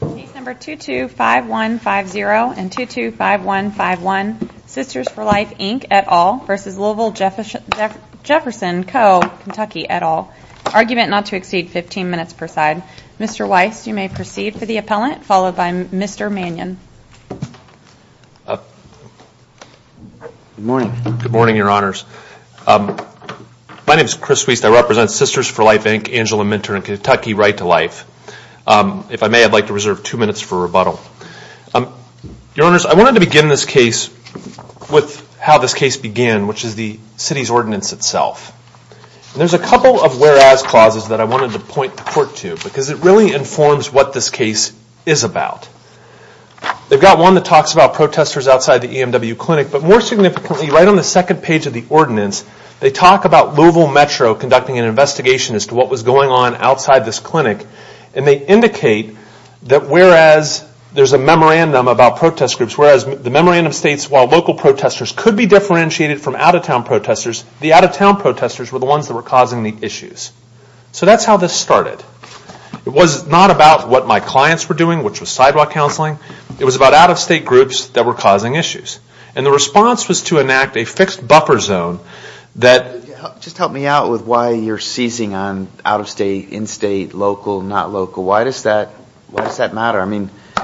Case No. 225150 and 225151, Sisters for Life Inc, et al. v. Louisville-Jefferson Co, KY, et al. Argument not to exceed 15 minutes per side. Mr. Weiss, you may proceed for the appellant, followed by Mr. Mannion. Good morning, your honors. My name is Chris Weiss. I represent Sisters for Life Inc, Angela Mentor, in Kentucky, right to life. If I may, I'd like to reserve two minutes for rebuttal. Your honors, I wanted to begin this case with how this case began, which is the city's ordinance itself. There's a couple of whereas clauses that I wanted to point the court to, because it really informs what this case is about. They've got one that talks about protesters outside the EMW clinic, but more significantly, right on the second page of the ordinance, they talk about Louisville Metro conducting an investigation as to what was going on outside this clinic, and they indicate that whereas there's a memorandum about protest groups, whereas the memorandum states while local protesters could be differentiated from out-of-town protesters, the out-of-town protesters were the ones that were causing the issues. So that's how this started. It was not about what my clients were doing, which was sidewalk counseling. It was about out-of-state groups that were causing issues. And the response was to enact a fixed buffer zone that... Just help me out with why you're seizing on out-of-state, in-state, local, not local. Why does that matter? I mean... Well,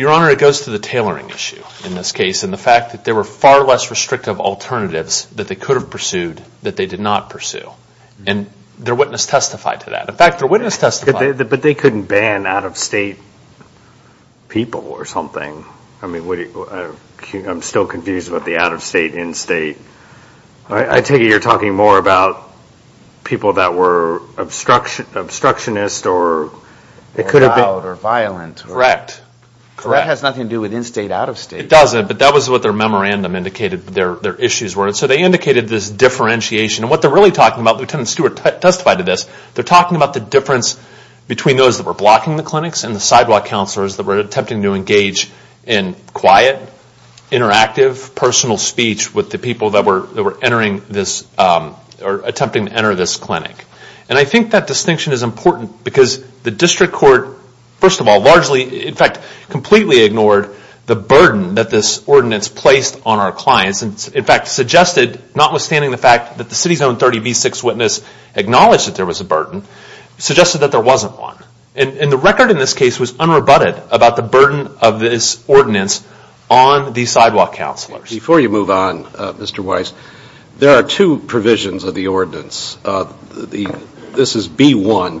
your honor, it goes to the tailoring issue in this case, and the fact that there were far less restrictive alternatives that they could have pursued that they did not pursue. And their witness testified to that. In fact, their witness testified... But they couldn't ban out-of-state people or something. I mean, I'm still confused about the out-of-state, in-state. I take it you're talking more about people that were obstructionists or... Or loud or violent. Correct. That has nothing to do with in-state, out-of-state. It doesn't, but that was what their memorandum indicated their issues were. So they indicated this differentiation. And what they're really talking about, Lieutenant Stewart testified to this, they're talking about the difference between those that were blocking the clinics and the sidewalk counselors that were attempting to engage in quiet, interactive, personal speech with the people that were attempting to enter this clinic. And I think that distinction is important because the district court, first of all, largely, in fact, completely ignored the burden that this ordinance placed on our clients. In fact, suggested, notwithstanding the fact that the city's own 30B6 witness acknowledged that there was a burden, suggested that there wasn't one. And the record in this case was unrebutted about the burden of this ordinance on these sidewalk counselors. Before you move on, Mr. Weiss, there are two provisions of the ordinance. This is B1.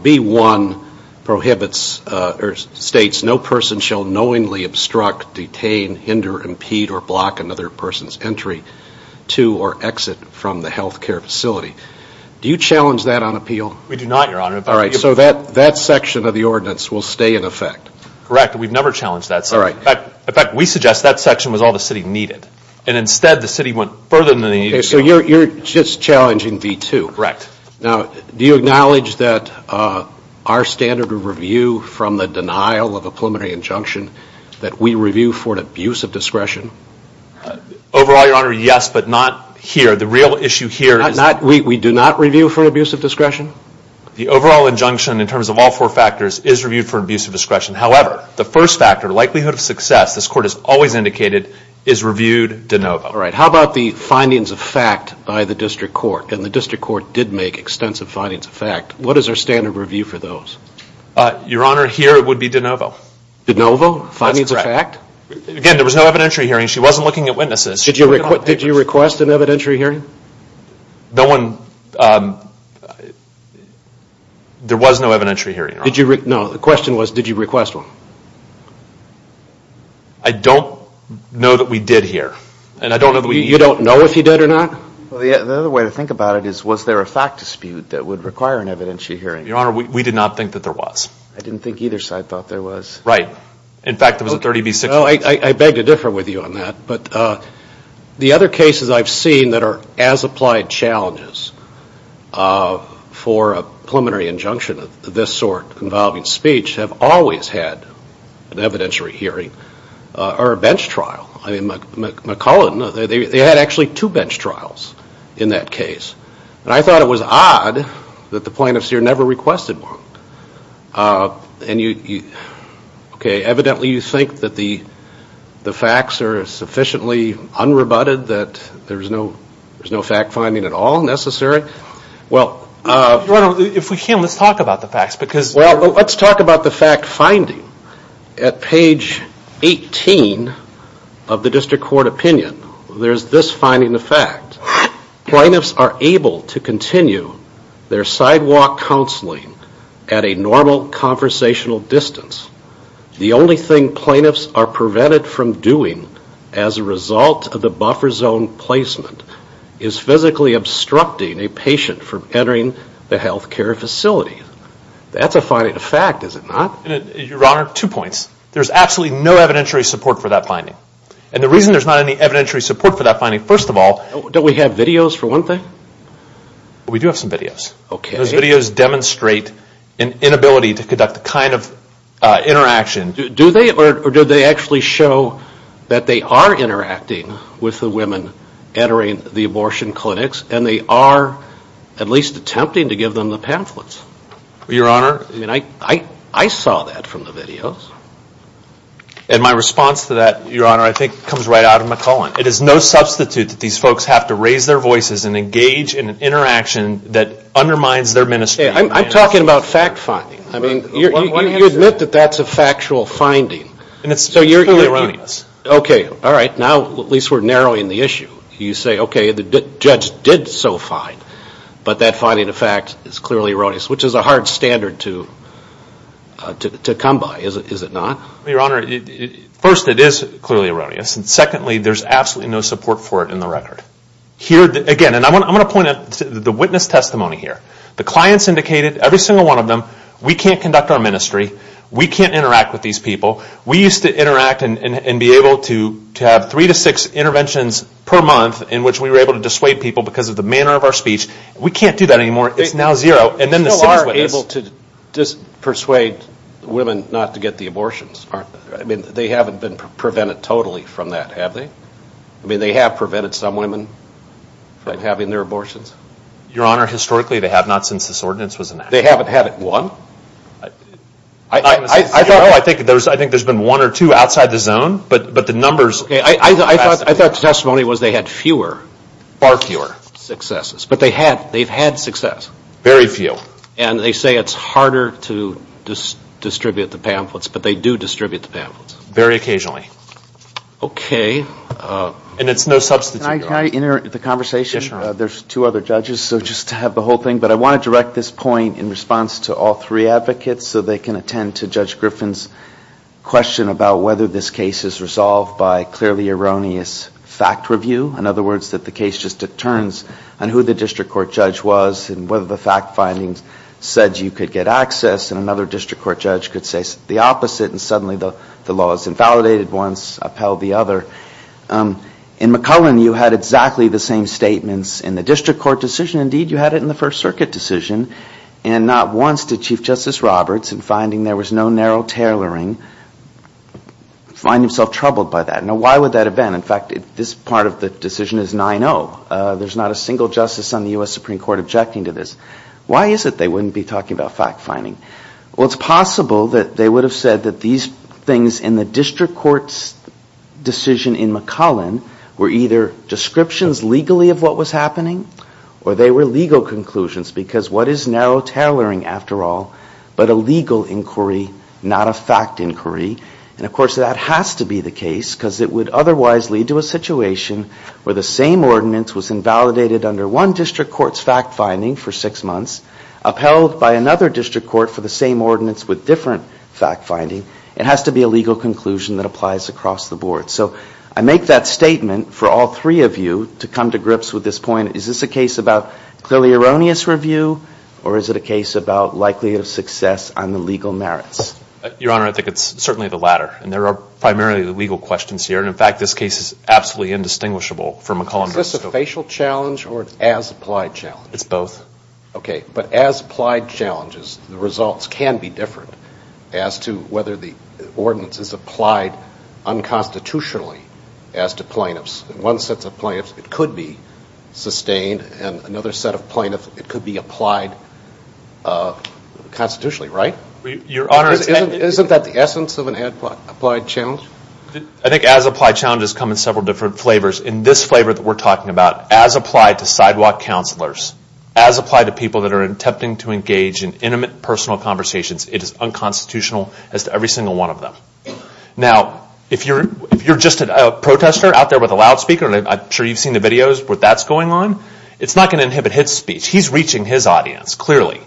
B1 states, no person shall knowingly obstruct, detain, hinder, impede, or block another person's entry to or exit from the health care facility. Do you challenge that on appeal? We do not, Your Honor. All right. So that section of the ordinance will stay in effect? Correct. We've never challenged that section. All right. In fact, we suggest that section was all the city needed. And instead, the city went further than they needed to go. So you're just challenging B2? Correct. Now, do you acknowledge that our standard of review from the denial of a preliminary injunction, that we review for an abuse of discretion? Overall, Your Honor, yes, but not here. The real issue here is that- We do not review for an abuse of discretion? The overall injunction, in terms of all four factors, is reviewed for abuse of discretion. However, the first factor, likelihood of success, this Court has always indicated, is reviewed de novo. All right. How about the findings of fact by the district court? And the district court did make extensive findings of fact. What is our standard review for those? Your Honor, here it would be de novo. De novo? That's correct. Findings of fact? Again, there was no evidentiary hearing. She wasn't looking at witnesses. Did you request an evidentiary hearing? There was no evidentiary hearing, Your Honor. No, the question was, did you request one? I don't know that we did here. And I don't know that we- You don't know if he did or not? Well, the other way to think about it is, was there a fact dispute that would require an evidentiary hearing? Your Honor, we did not think that there was. I didn't think either side thought there was. Right. In fact, there was a 30B6- Well, I beg to differ with you on that. But the other cases I've seen that are as applied challenges for a preliminary injunction of this sort involving speech have always had an evidentiary hearing or a bench trial. I mean, McClellan, they had actually two bench trials in that case. And I thought it was odd that the plaintiffs here never requested one. Okay, evidently you think that the facts are sufficiently unrebutted that there's no fact-finding at all necessary? Well- Your Honor, if we can, let's talk about the facts because- Well, let's talk about the fact-finding. At page 18 of the district court opinion, there's this finding of fact. Plaintiffs are able to continue their sidewalk counseling at a normal conversational distance. The only thing plaintiffs are prevented from doing as a result of the buffer zone placement is physically obstructing a patient from entering the health care facility. That's a finding of fact, is it not? Your Honor, two points. There's absolutely no evidentiary support for that finding. And the reason there's not any evidentiary support for that finding, first of all- Don't we have videos for one thing? We do have some videos. Okay. Those videos demonstrate an inability to conduct the kind of interaction- Do they or do they actually show that they are interacting with the women entering the abortion clinics and they are at least attempting to give them the pamphlets? Your Honor- I mean, I saw that from the videos. And my response to that, Your Honor, I think comes right out of McClellan. It is no substitute that these folks have to raise their voices and engage in an interaction that undermines their ministry. I'm talking about fact finding. I mean, you admit that that's a factual finding. And it's clearly erroneous. Okay. All right. Now at least we're narrowing the issue. You say, okay, the judge did so fine, but that finding of fact is clearly erroneous, which is a hard standard to come by, is it not? Your Honor, first, it is clearly erroneous. And secondly, there's absolutely no support for it in the record. Again, and I'm going to point out the witness testimony here. The clients indicated, every single one of them, we can't conduct our ministry. We can't interact with these people. We used to interact and be able to have three to six interventions per month in which we were able to dissuade people because of the manner of our speech. We can't do that anymore. It's now zero. And then the city's witness- They still are able to dissuade women not to get the abortions, aren't they? I mean, they haven't been prevented totally from that, have they? I mean, they have prevented some women from having their abortions. Your Honor, historically they have not since this ordinance was enacted. They haven't had one? I think there's been one or two outside the zone, but the numbers- Okay. I thought the testimony was they had fewer. Far fewer. Successes. But they've had success. Very few. And they say it's harder to distribute the pamphlets, but they do distribute the pamphlets. Very occasionally. Okay. And it's no substitute, Your Honor. Can I interrupt the conversation? Yes, Your Honor. There's two other judges, so just to have the whole thing. But I want to direct this point in response to all three advocates so they can attend to Judge Griffin's question about whether this case is resolved by clearly erroneous fact review. In other words, that the case just determines on who the district court judge was and whether the fact findings said you could get access and another district court judge could say the opposite and suddenly the law is invalidated once, upheld the other. In McClellan, you had exactly the same statements in the district court decision. Indeed, you had it in the First Circuit decision. And not once did Chief Justice Roberts, in finding there was no narrow tailoring, find himself troubled by that. Now, why would that have been? In fact, this part of the decision is 9-0. There's not a single justice on the U.S. Supreme Court objecting to this. Why is it they wouldn't be talking about fact finding? Well, it's possible that they would have said that these things in the district court's decision in McClellan were either descriptions legally of what was happening or they were legal conclusions because what is narrow tailoring, after all, but a legal inquiry, not a fact inquiry. And, of course, that has to be the case because it would otherwise lead to a situation where the same ordinance was invalidated under one district court's fact finding for six months, upheld by another district court for the same ordinance with different fact finding. It has to be a legal conclusion that applies across the board. So I make that statement for all three of you to come to grips with this point. Is this a case about clearly erroneous review or is it a case about likelihood of success on the legal merits? Your Honor, I think it's certainly the latter. And there are primarily the legal questions here. And, in fact, this case is absolutely indistinguishable from McClellan. Is this a facial challenge or an as-applied challenge? It's both. Okay, but as-applied challenges, the results can be different as to whether the ordinance is applied unconstitutionally as to plaintiffs. One set of plaintiffs it could be sustained and another set of plaintiffs it could be applied constitutionally, right? Isn't that the essence of an as-applied challenge? I think as-applied challenges come in several different flavors. In this flavor that we're talking about, as applied to sidewalk counselors, as applied to people that are attempting to engage in intimate personal conversations, it is unconstitutional as to every single one of them. Now, if you're just a protester out there with a loudspeaker, and I'm sure you've seen the videos where that's going on, it's not going to inhibit his speech. He's reaching his audience, clearly,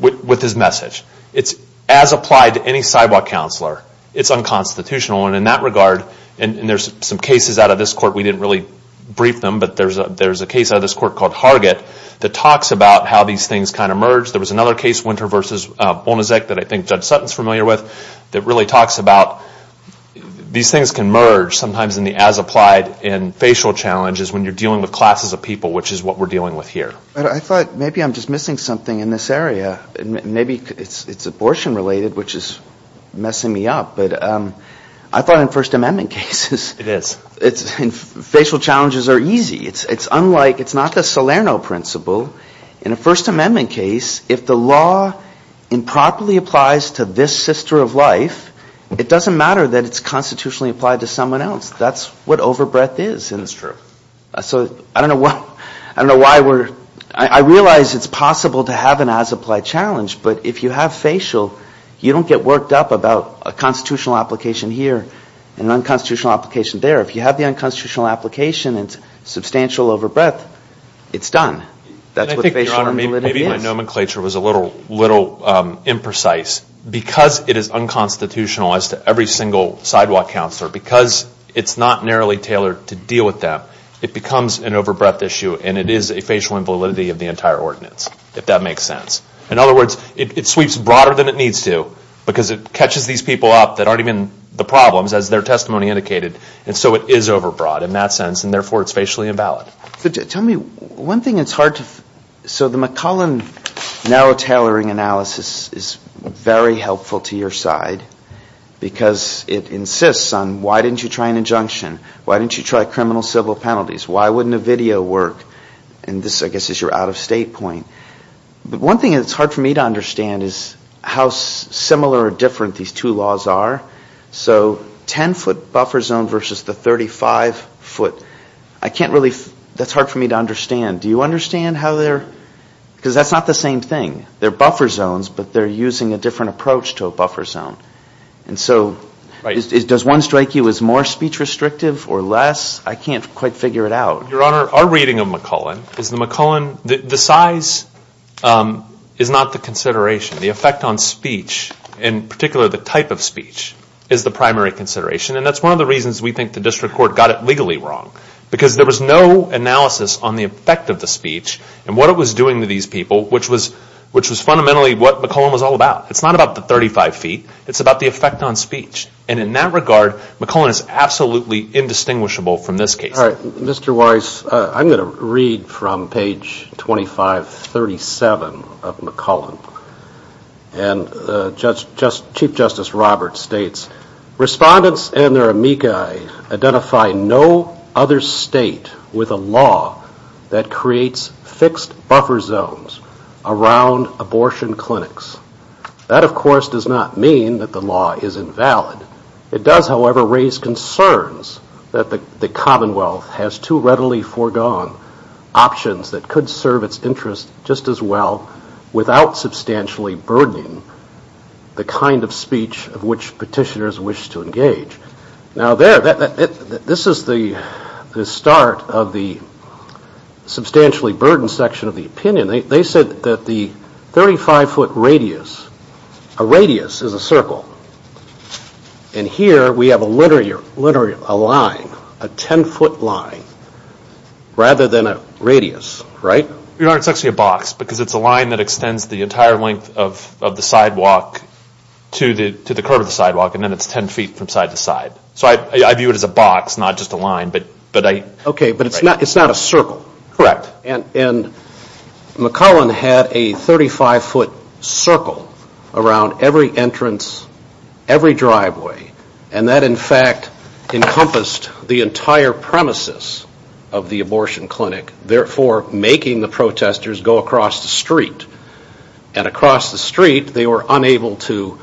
with his message. It's as applied to any sidewalk counselor. It's unconstitutional. And in that regard, and there's some cases out of this court, we didn't really brief them, but there's a case out of this court called Hargett that talks about how these things kind of merge. There was another case, Winter v. Bonacic, that I think Judge Sutton is familiar with, that really talks about these things can merge, sometimes in the as-applied and facial challenges when you're dealing with classes of people, which is what we're dealing with here. I thought maybe I'm just missing something in this area. Maybe it's abortion-related, which is messing me up. But I thought in First Amendment cases... It is. Facial challenges are easy. It's unlike, it's not the Salerno principle. In a First Amendment case, if the law improperly applies to this sister of life, it doesn't matter that it's constitutionally applied to someone else. That's what overbreadth is. That's true. So I don't know why we're... I realize it's possible to have an as-applied challenge, but if you have facial, you don't get worked up about a constitutional application here and an unconstitutional application there. If you have the unconstitutional application and substantial overbreadth, it's done. That's what facial invalidity is. Maybe my nomenclature was a little imprecise. Because it is unconstitutional as to every single sidewalk counselor, because it's not narrowly tailored to deal with that, it becomes an overbreadth issue, and it is a facial invalidity of the entire ordinance, if that makes sense. In other words, it sweeps broader than it needs to, because it catches these people up that aren't even the problems, as their testimony indicated, and so it is overbroad in that sense, and therefore it's facially invalid. Tell me, one thing it's hard to... So the McClellan narrow tailoring analysis is very helpful to your side, because it insists on why didn't you try an injunction? Why didn't you try criminal civil penalties? Why wouldn't a video work? And this, I guess, is your out-of-state point. But one thing it's hard for me to understand is how similar or different these two laws are. So 10-foot buffer zone versus the 35-foot, I can't really... that's hard for me to understand. Do you understand how they're... Because that's not the same thing. They're buffer zones, but they're using a different approach to a buffer zone. And so does one strike you as more speech restrictive or less? I can't quite figure it out. Your Honor, our reading of McClellan is the McClellan... The size is not the consideration. The effect on speech, in particular the type of speech, is the primary consideration, and that's one of the reasons we think the district court got it legally wrong, because there was no analysis on the effect of the speech and what it was doing to these people, which was fundamentally what McClellan was all about. It's not about the 35 feet. It's about the effect on speech. And in that regard, McClellan is absolutely indistinguishable from this case. All right. Mr. Weiss, I'm going to read from page 2537 of McClellan. And Chief Justice Roberts states, Respondents and their amici identify no other state with a law that creates fixed buffer zones around abortion clinics. That, of course, does not mean that the law is invalid. It does, however, raise concerns that the Commonwealth has too readily foregone options that could serve its interests just as well without substantially burdening the kind of speech of which petitioners wish to engage. Now, there, this is the start of the substantially burdened section of the opinion. They said that the 35-foot radius, a radius is a circle. And here we have a line, a 10-foot line, rather than a radius, right? Your Honor, it's actually a box because it's a line that extends the entire length of the sidewalk to the curve of the sidewalk, and then it's 10 feet from side to side. So I view it as a box, not just a line. Okay, but it's not a circle. Correct. And McClellan had a 35-foot circle around every entrance, every driveway, and that, in fact, encompassed the entire premises of the abortion clinic, therefore making the protesters go across the street. And across the street, they were unable to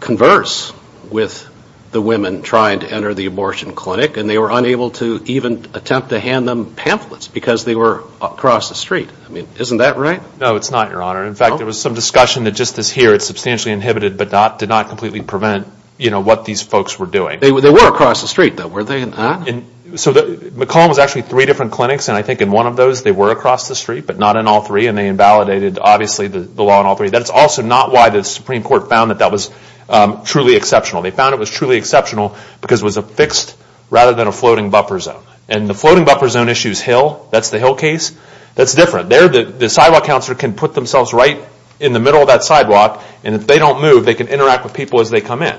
converse with the women trying to enter the abortion clinic, and they were unable to even attempt to hand them pamphlets because they were across the street. I mean, isn't that right? No, it's not, Your Honor. In fact, there was some discussion that just this here, it's substantially inhibited, but did not completely prevent, you know, what these folks were doing. They were across the street, though. Were they not? So McClellan was actually three different clinics, and I think in one of those, they were across the street, but not in all three, and they invalidated, obviously, the law in all three. That's also not why the Supreme Court found that that was truly exceptional. They found it was truly exceptional because it was a fixed rather than a floating buffer zone. And the floating buffer zone issue is Hill. That's the Hill case. That's different. The sidewalk counselor can put themselves right in the middle of that sidewalk, and if they don't move, they can interact with people as they come in.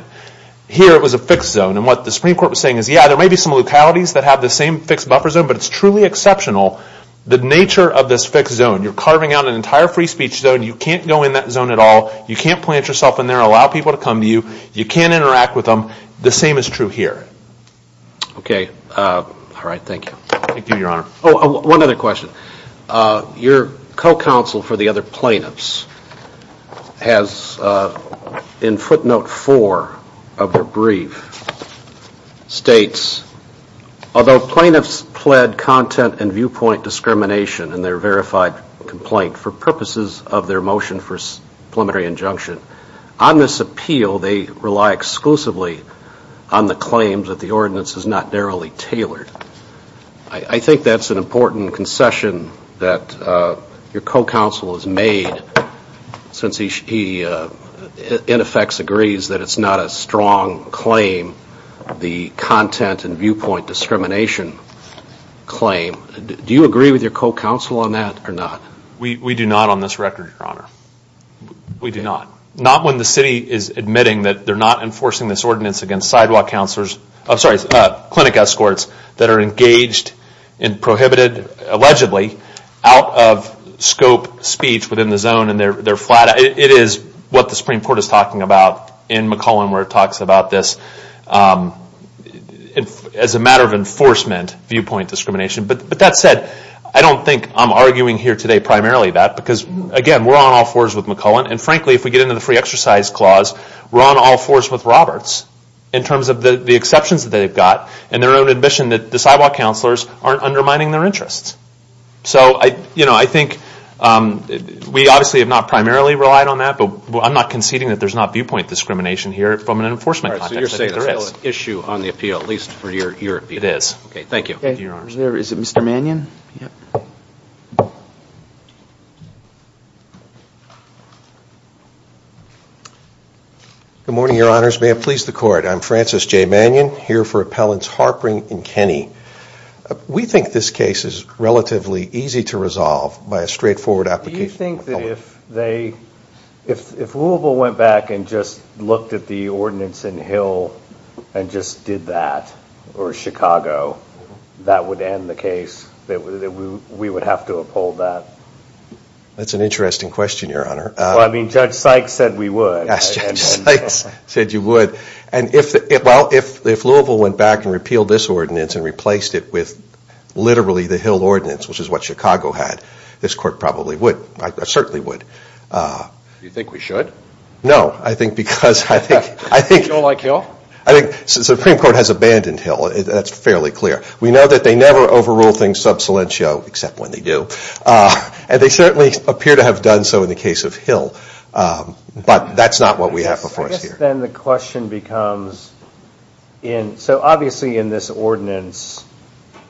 Here, it was a fixed zone, and what the Supreme Court was saying is, yeah, there may be some localities that have the same fixed buffer zone, but it's truly exceptional, the nature of this fixed zone. You're carving out an entire free speech zone. You can't go in that zone at all. You can't plant yourself in there, allow people to come to you. You can't interact with them. The same is true here. Okay. All right, thank you. Thank you, Your Honor. Oh, one other question. Your co-counsel for the other plaintiffs has, in footnote four of their brief, states, although plaintiffs pled content and viewpoint discrimination in their verified complaint for purposes of their motion for preliminary injunction, on this appeal, they rely exclusively on the claims that the ordinance is not narrowly tailored. I think that's an important concession that your co-counsel has made, since he, in effect, agrees that it's not a strong claim, the content and viewpoint discrimination claim. Do you agree with your co-counsel on that or not? We do not on this record, Your Honor. We do not. Not when the city is admitting that they're not enforcing this ordinance against clinic escorts that are engaged and prohibited, allegedly, out of scope speech within the zone, and they're flat out. It is what the Supreme Court is talking about in McCullen, where it talks about this as a matter of enforcement viewpoint discrimination. But that said, I don't think I'm arguing here today primarily that, because, again, we're on all fours with McCullen, and frankly, if we get into the free exercise clause, we're on all fours with Roberts, in terms of the exceptions that they've got and their own admission that the sidewalk counselors aren't undermining their interests. So I think we obviously have not primarily relied on that, but I'm not conceding that there's not viewpoint discrimination here from an enforcement context. So you're saying there's still an issue on the appeal, at least for your opinion? It is. Okay, thank you. Is it Mr. Mannion? Good morning, Your Honors. May it please the Court. I'm Francis J. Mannion, here for Appellants Harpring and Kenney. We think this case is relatively easy to resolve by a straightforward application. Do you think that if Louisville went back and just looked at the ordinance in Hill that would end the case? They wouldn't have to do that? We would have to uphold that? That's an interesting question, Your Honor. Well, I mean, Judge Sykes said we would. Yes, Judge Sykes said you would. And if Louisville went back and repealed this ordinance and replaced it with literally the Hill ordinance, which is what Chicago had, this Court probably would, certainly would. Do you think we should? No, I think because I think... You don't like Hill? I think the Supreme Court has abandoned Hill. That's fairly clear. We know that they never overrule things sub salientio, except when they do. And they certainly appear to have done so in the case of Hill. But that's not what we have before us here. Then the question becomes... So obviously in this ordinance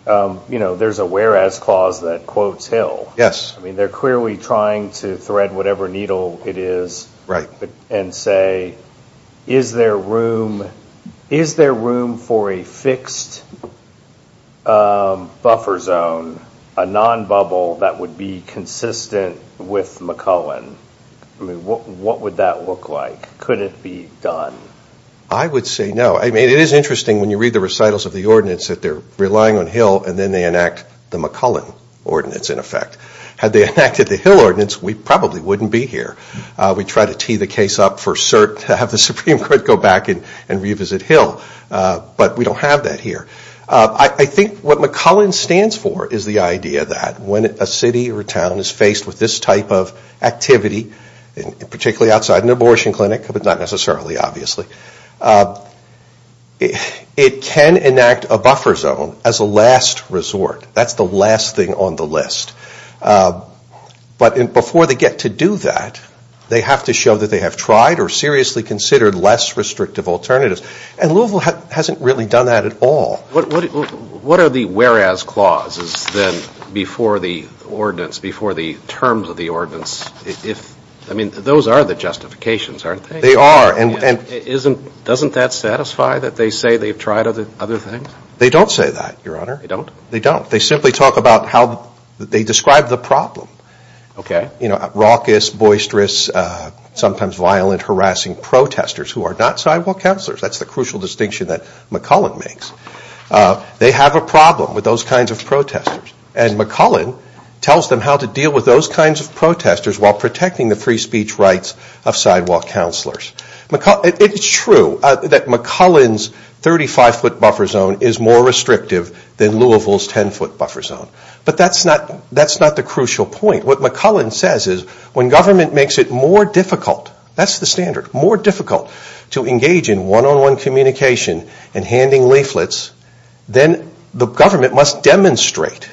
there's a whereas clause that quotes Hill. They're clearly trying to thread whatever needle it is and say, is there room for a fixed buffer zone, a non-bubble that would be consistent with McCullen? I mean, what would that look like? Could it be done? I would say no. I mean, it is interesting when you read the recitals of the ordinance that they're relying on Hill and then they enact the McCullen ordinance, in effect. Had they enacted the Hill ordinance, we probably wouldn't be here. We'd try to tee the case up for cert and have the Supreme Court go back and revisit Hill. But we don't have that here. I think what McCullen stands for is the idea that when a city or town is faced with this type of activity, particularly outside an abortion clinic, but not necessarily, obviously, it can enact a buffer zone as a last resort. That's the last thing on the list. But before they get to do that, they have to show that they have tried or seriously considered less restrictive alternatives. And Louisville hasn't really done that at all. What are the whereas clauses then before the ordinance, before the terms of the ordinance? I mean, those are the justifications, aren't they? They are. Doesn't that satisfy that they say they've tried other things? They don't say that, Your Honor. They don't? They don't. They talk about how they describe the problem. OK. You know, raucous, boisterous, sometimes violent, harassing protesters who are not sidewalk counselors. That's the crucial distinction that McCullen makes. They have a problem with those kinds of protesters. And McCullen tells them how to deal with those kinds of protesters while protecting the free speech rights of sidewalk counselors. It's true that McCullen's 35-foot buffer zone is more restrictive than Louisville's 10-foot buffer zone. But that's not the crucial point. What McCullen says is when government makes it more difficult, that's the standard, more difficult to engage in one-on-one communication and handing leaflets, then the government must demonstrate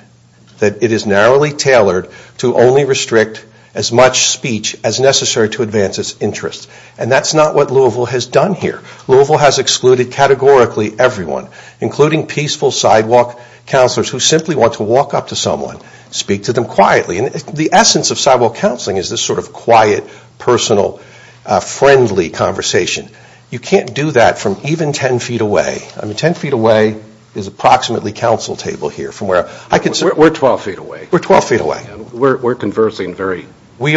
that it is narrowly tailored to only restrict as much speech as necessary to advance its interests. And that's not what Louisville has done here. Louisville has excluded categorically everyone, including peaceful sidewalk counselors who simply want to walk up to someone, speak to them quietly. And the essence of sidewalk counseling is this sort of quiet, personal, friendly conversation. You can't do that from even 10 feet away. I mean, 10 feet away is approximately council table here. We're 12 feet away. We're 12 feet away. We're conversing very freely. We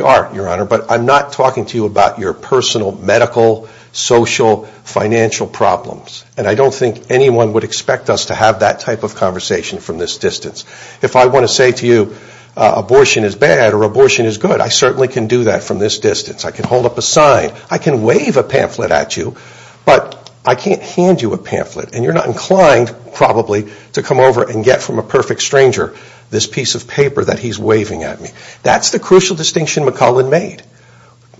are, Your Honor. But I'm not talking to you about your personal, medical, social, financial problems. And I don't think anyone would expect us to have that type of conversation from this distance. If I want to say to you, abortion is bad or abortion is good, I certainly can do that from this distance. I can hold up a sign. I can wave a pamphlet at you. But I can't hand you a pamphlet. And you're not inclined, probably, to come over and get from a perfect stranger this piece of paper that he's waving at me. That's the crucial distinction McCullen made.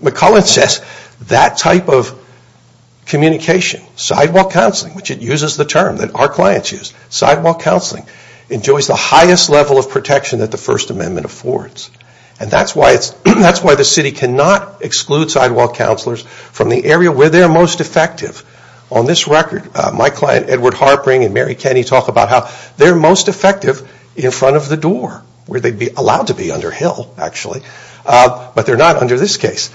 McCullen says that type of communication, sidewalk counseling, which it uses the term that our clients use, sidewalk counseling, enjoys the highest level of protection that the First Amendment affords. And that's why the city cannot exclude sidewalk counselors from the area where they're most effective. On this record, my client Edward Harpring and Mary Kenny talk about how they're most effective in front of the door, where they'd be allowed to be, under Hill, actually. But they're not under this case.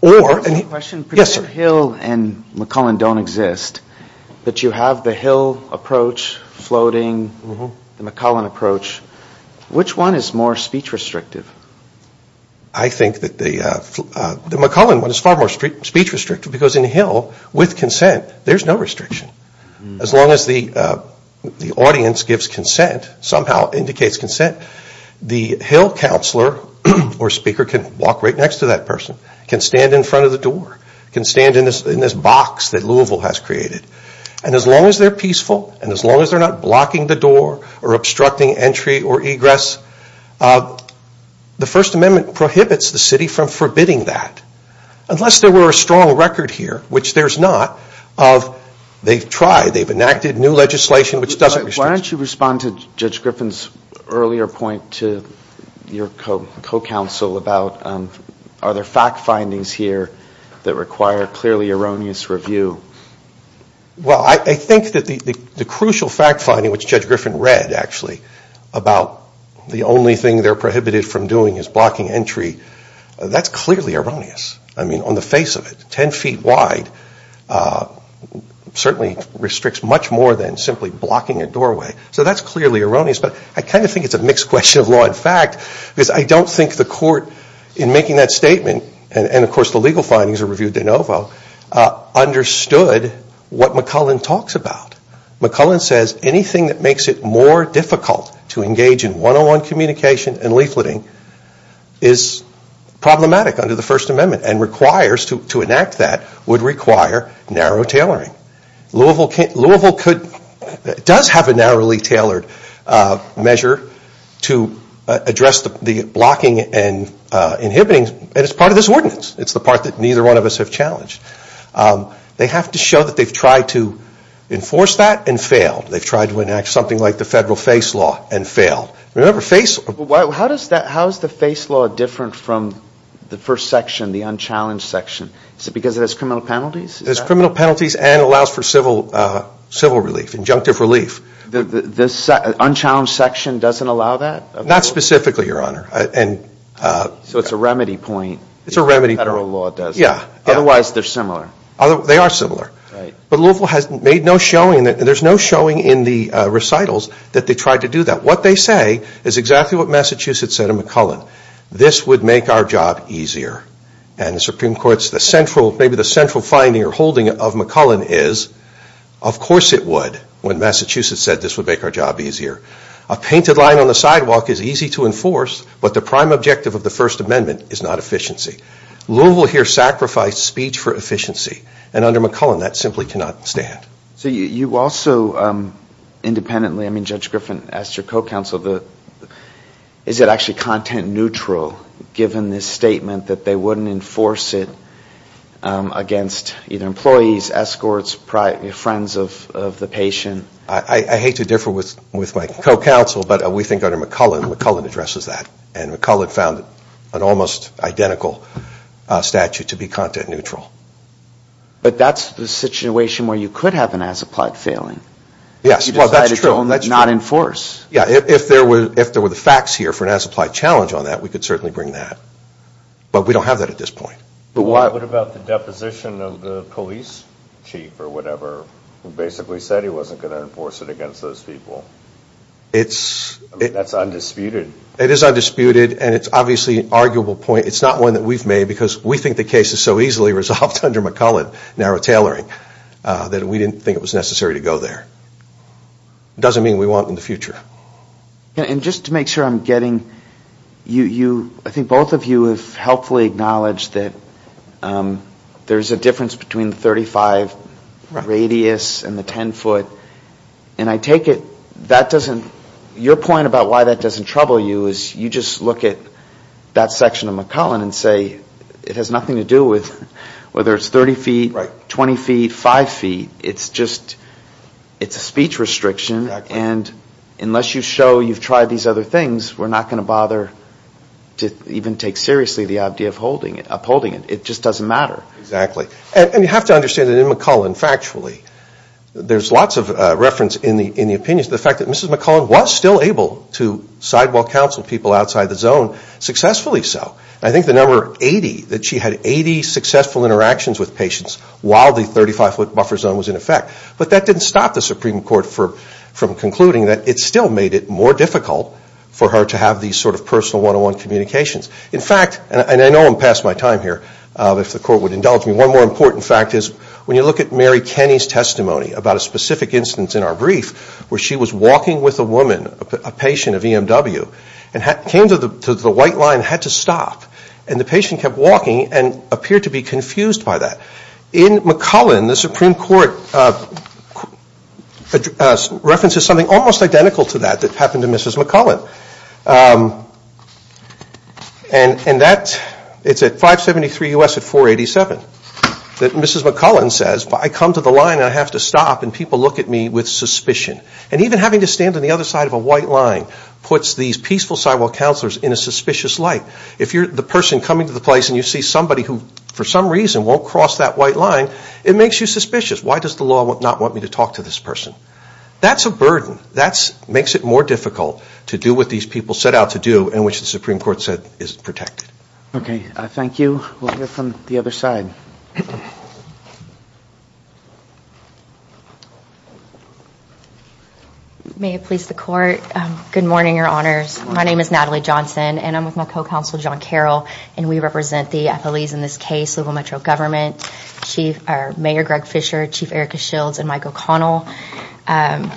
Or... I have a question. Yes, sir. If Hill and McCullen don't exist, but you have the Hill approach floating, the McCullen approach, which one is more speech restrictive? I think that the McCullen one is far more speech restrictive because in Hill, with consent, there's no restriction. As long as the audience gives consent, somehow indicates consent, the Hill counselor or speaker can walk right next to that person, can stand in front of the door, can stand in this box that Louisville has created. And as long as they're peaceful, and as long as they're not blocking the door or obstructing entry or egress, the First Amendment prohibits the city from forbidding that. Unless there were a strong record here, which there's not, of they've tried, they've enacted new legislation which doesn't restrict... Why don't you respond to Judge Griffin's earlier point to your co-counsel about are there fact findings here that require clearly erroneous review? Well, I think that the crucial fact finding which Judge Griffin read, actually, about the only thing they're prohibited from doing is blocking entry, that's clearly erroneous. I mean, on the face of it, 10 feet wide certainly restricts much more than simply blocking a doorway. So that's clearly erroneous, but I kind of think it's a mixed question of law and fact because I don't think the court, in making that statement, and of course the legal findings are reviewed de novo, understood what McCullen talks about. McCullen says anything that makes it more difficult to engage in one-on-one communication and leafleting is problematic under the First Amendment and requires, to enact that, would require narrow tailoring. Louisville does have a narrowly tailored measure to address the blocking and inhibiting and it's part of this ordinance. It's the part that neither one of us have challenged. They have to show that they've tried to enforce that and failed. They've tried to enact something like the federal face law and failed. Remember, face... How is the face law different from the first section, the unchallenged section? Is it because it has criminal penalties? It has criminal penalties and allows for civil relief, injunctive relief. The unchallenged section doesn't allow that? Not specifically, Your Honor. So it's a remedy point. It's a remedy point. Federal law does. Yeah. Otherwise they're similar. They are similar. But Louisville has made no showing, there's no showing in the recitals that they tried to do that. What they say is exactly what Massachusetts said to McCullen. This would make our job easier. And the Supreme Court's, maybe the central finding or holding of McCullen is, of course it would when Massachusetts said this would make our job easier. A painted line on the sidewalk is easy to enforce, but the prime objective of the First Amendment is not efficiency. Louisville here sacrificed speech for efficiency. And under McCullen, that simply cannot stand. So you also independently, I mean Judge Griffin asked your co-counsel, is it actually content neutral given this statement that they wouldn't enforce it against either employees, escorts, friends of the patient? I hate to differ with my co-counsel, but we think under McCullen, McCullen addresses that. And McCullen found an almost identical statute to be content neutral. But that's the situation where you could have an as-applied failing. Yes, well that's true. You decided to not enforce. Yeah, if there were the facts here for an as-applied challenge on that, we could certainly bring that. But we don't have that at this point. What about the deposition of the police chief or whatever who basically said he wasn't going to enforce it against those people? That's undisputed. It is undisputed, and it's obviously an arguable point. It's not one that we've made because we think the case is so easily resolved under McCullen, narrow tailoring, that we didn't think it was necessary to go there. It doesn't mean we want it in the future. And just to make sure I'm getting, I think both of you have helpfully acknowledged that there's a difference between the 35 radius and the 10 foot. And I take it that doesn't, your point about why that doesn't trouble you is you just look at that section of McCullen and say it has nothing to do with whether it's 30 feet, 20 feet, 5 feet. It's just, it's a speech restriction. And unless you show you've tried these other things, we're not going to bother to even take seriously the idea of upholding it. It just doesn't matter. Exactly. And you have to understand that in McCullen, factually, there's lots of reference in the opinions to the fact that Mrs. McCullen was still able to sidewalk counsel people outside the zone, successfully so. I think the number 80, that she had 80 successful interactions with patients while the 35 foot buffer zone was in effect. But that didn't stop the Supreme Court from concluding that it still made it more difficult for her to have these sort of personal one-on-one communications. In fact, and I know I'm past my time here, if the Court would indulge me, one more important fact is when you look at Mary Kenny's testimony about a specific instance in our brief where she was walking with a woman, a patient of EMW, and came to the white line and had to stop. And the patient kept walking and appeared to be confused by that. In McCullen, the Supreme Court references something almost identical to that that happened to Mrs. McCullen. And that, it's at 573 U.S. at 487, that Mrs. McCullen says, I come to the line and I have to stop and people look at me with suspicion. And even having to stand on the other side of a white line puts these peaceful sidewalk counselors in a suspicious light. If you're the person coming to the place won't cross that white line, it makes you suspicious. Why does the law not want me to talk to this person? That's a burden. That makes it more difficult to do what these people set out to do and which the Supreme Court said is protected. Okay, thank you. We'll hear from the other side. May it please the Court. Good morning, Your Honors. My name is Natalie Johnson and I'm with my co-counsel John Carroll and we represent the athletes in this case, Louisville Metro Government. Mayor Greg Fischer, Chief Erica Shields, and Mike O'Connell. And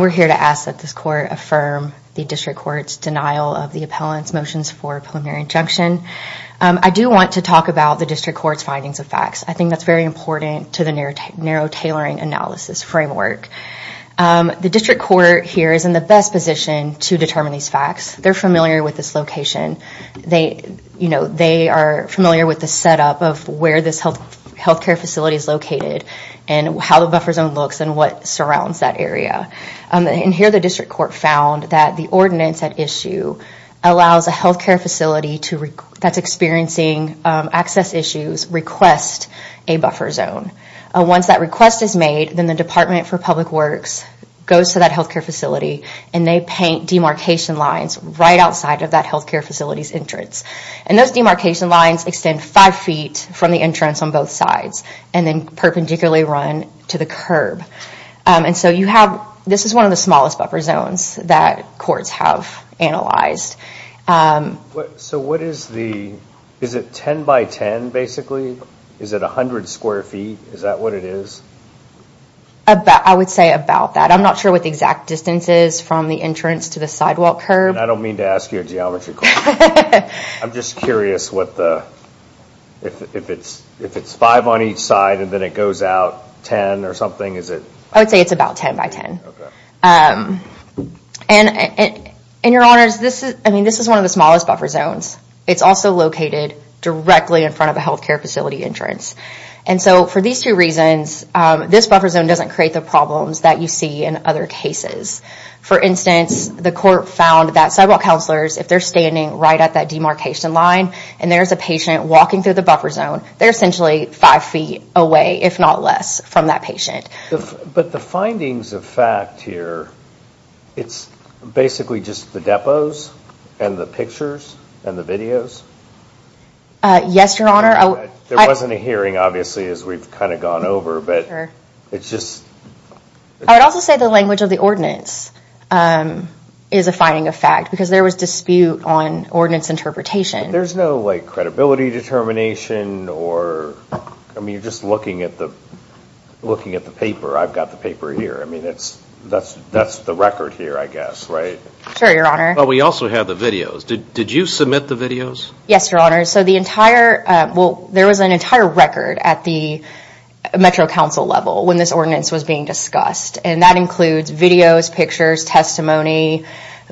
we're here to ask that this Court affirm the District Court's denial of the appellant's motions for preliminary injunction. I do want to talk about the District Court's findings of facts. I think that's very important to the narrow tailoring analysis framework. The District Court here is in the best position to determine these facts. They're familiar with this location. They are familiar with the setup of where this healthcare facility is located and how the buffer zone looks and what surrounds that area. And here the District Court found that the ordinance at issue allows a healthcare facility that's experiencing access issues request a buffer zone. Once that request is made, then the Department for Public Works goes to that healthcare facility and they paint demarcation lines right outside of that healthcare facility's entrance. And those demarcation lines extend five feet from the entrance on both sides and then perpendicularly run to the curb. And so you have, this is one of the smallest buffer zones that courts have analyzed. So what is the, is it 10 by 10 basically? Is it 100 square feet? Is that what it is? I would say about that. I'm not sure what the exact distance is from the entrance to the sidewalk curb. I don't mean to ask you a geometry question. I'm just curious what the, if it's five on each side and then it goes out 10 or something, is it? I would say it's about 10 by 10. And your honors, this is one of the smallest buffer zones. It's also located directly in front of a healthcare facility entrance. And so for these two reasons, this buffer zone doesn't create the problems that you see in other cases. For instance, the court found that sidewalk counselors, if they're standing right at that demarcation line and there's a patient walking through the buffer zone, they're essentially five feet away, if not less, from that patient. But the findings of fact here, it's basically just the depots and the pictures and the videos? Yes, your honor. There wasn't a hearing obviously as we've kind of gone over, but it's just... I would also say the language of the ordinance is a finding of fact because there was dispute on ordinance interpretation. There's no credibility determination or... I mean, you're just looking at the paper. I've got the paper here. I mean, that's the record here, I guess, right? Sure, your honor. But we also have the videos. Did you submit the videos? Yes, your honor. So the entire... Well, there was an entire record at the Metro Council level when this ordinance was being discussed. And that includes videos, pictures, testimony,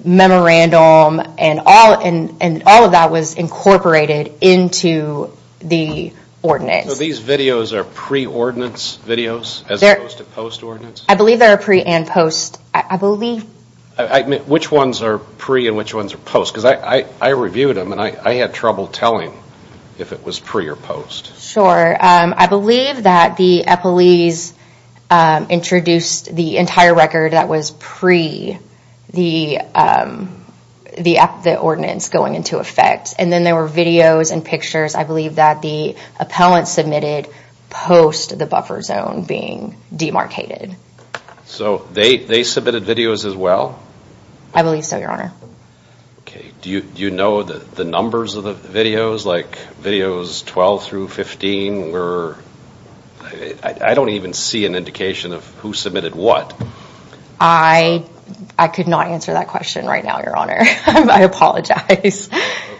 memorandum, and all of that was incorporated into the ordinance. So these videos are pre-ordinance videos as opposed to post-ordinance? I believe they're pre and post. I believe... Which ones are pre and which ones are post? Because I reviewed them and I had trouble telling if it was pre or post. Sure. I believe that the epilese introduced the entire record that was pre the ordinance going into effect. And then there were videos and pictures. I believe that the appellant submitted post the buffer zone being demarcated. So they submitted videos as well? I believe so, your honor. Okay. Do you know the numbers of the videos? Like videos 12 through 15 were... I don't even see an indication of who submitted what. I could not answer that question right now, your honor. I apologize.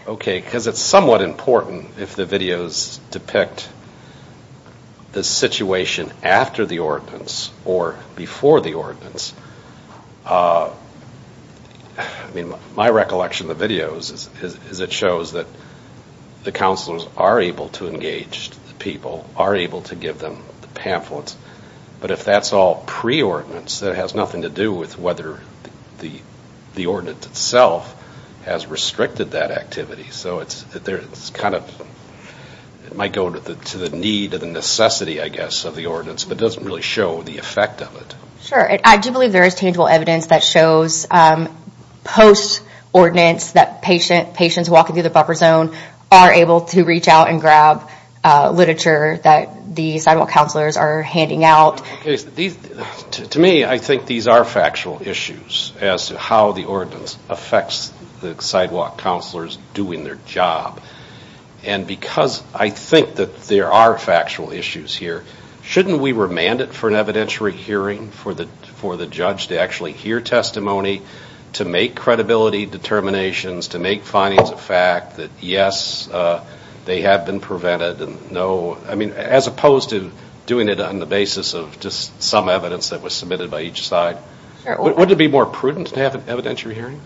Okay, because it's somewhat important if the videos depict the situation after the ordinance or before the ordinance. I mean, my recollection of the videos is it shows that the counselors are able to engage the people, are able to give them the pamphlets. But if that's all pre-ordinance, it has nothing to do with whether the ordinance itself has restricted that activity. So it's kind of... It might go to the need or the necessity, I guess, of the ordinance, but it doesn't really show the effect of it. Sure. I do believe there is tangible evidence that shows post-ordinance that patients walking through the buffer zone are able to reach out and grab literature that the sidewalk counselors are handing out. To me, I think these are factual issues as to how the ordinance affects the sidewalk counselors doing their job. And because I think that there are factual issues here, shouldn't we remand it for an evidentiary hearing for the judge to actually hear testimony, to make credibility determinations, to make findings of fact that, yes, they have been prevented and no... I mean, as opposed to doing it on the basis of just some evidence that was submitted by each side. Sure. Would it be more prudent to have an evidentiary hearing?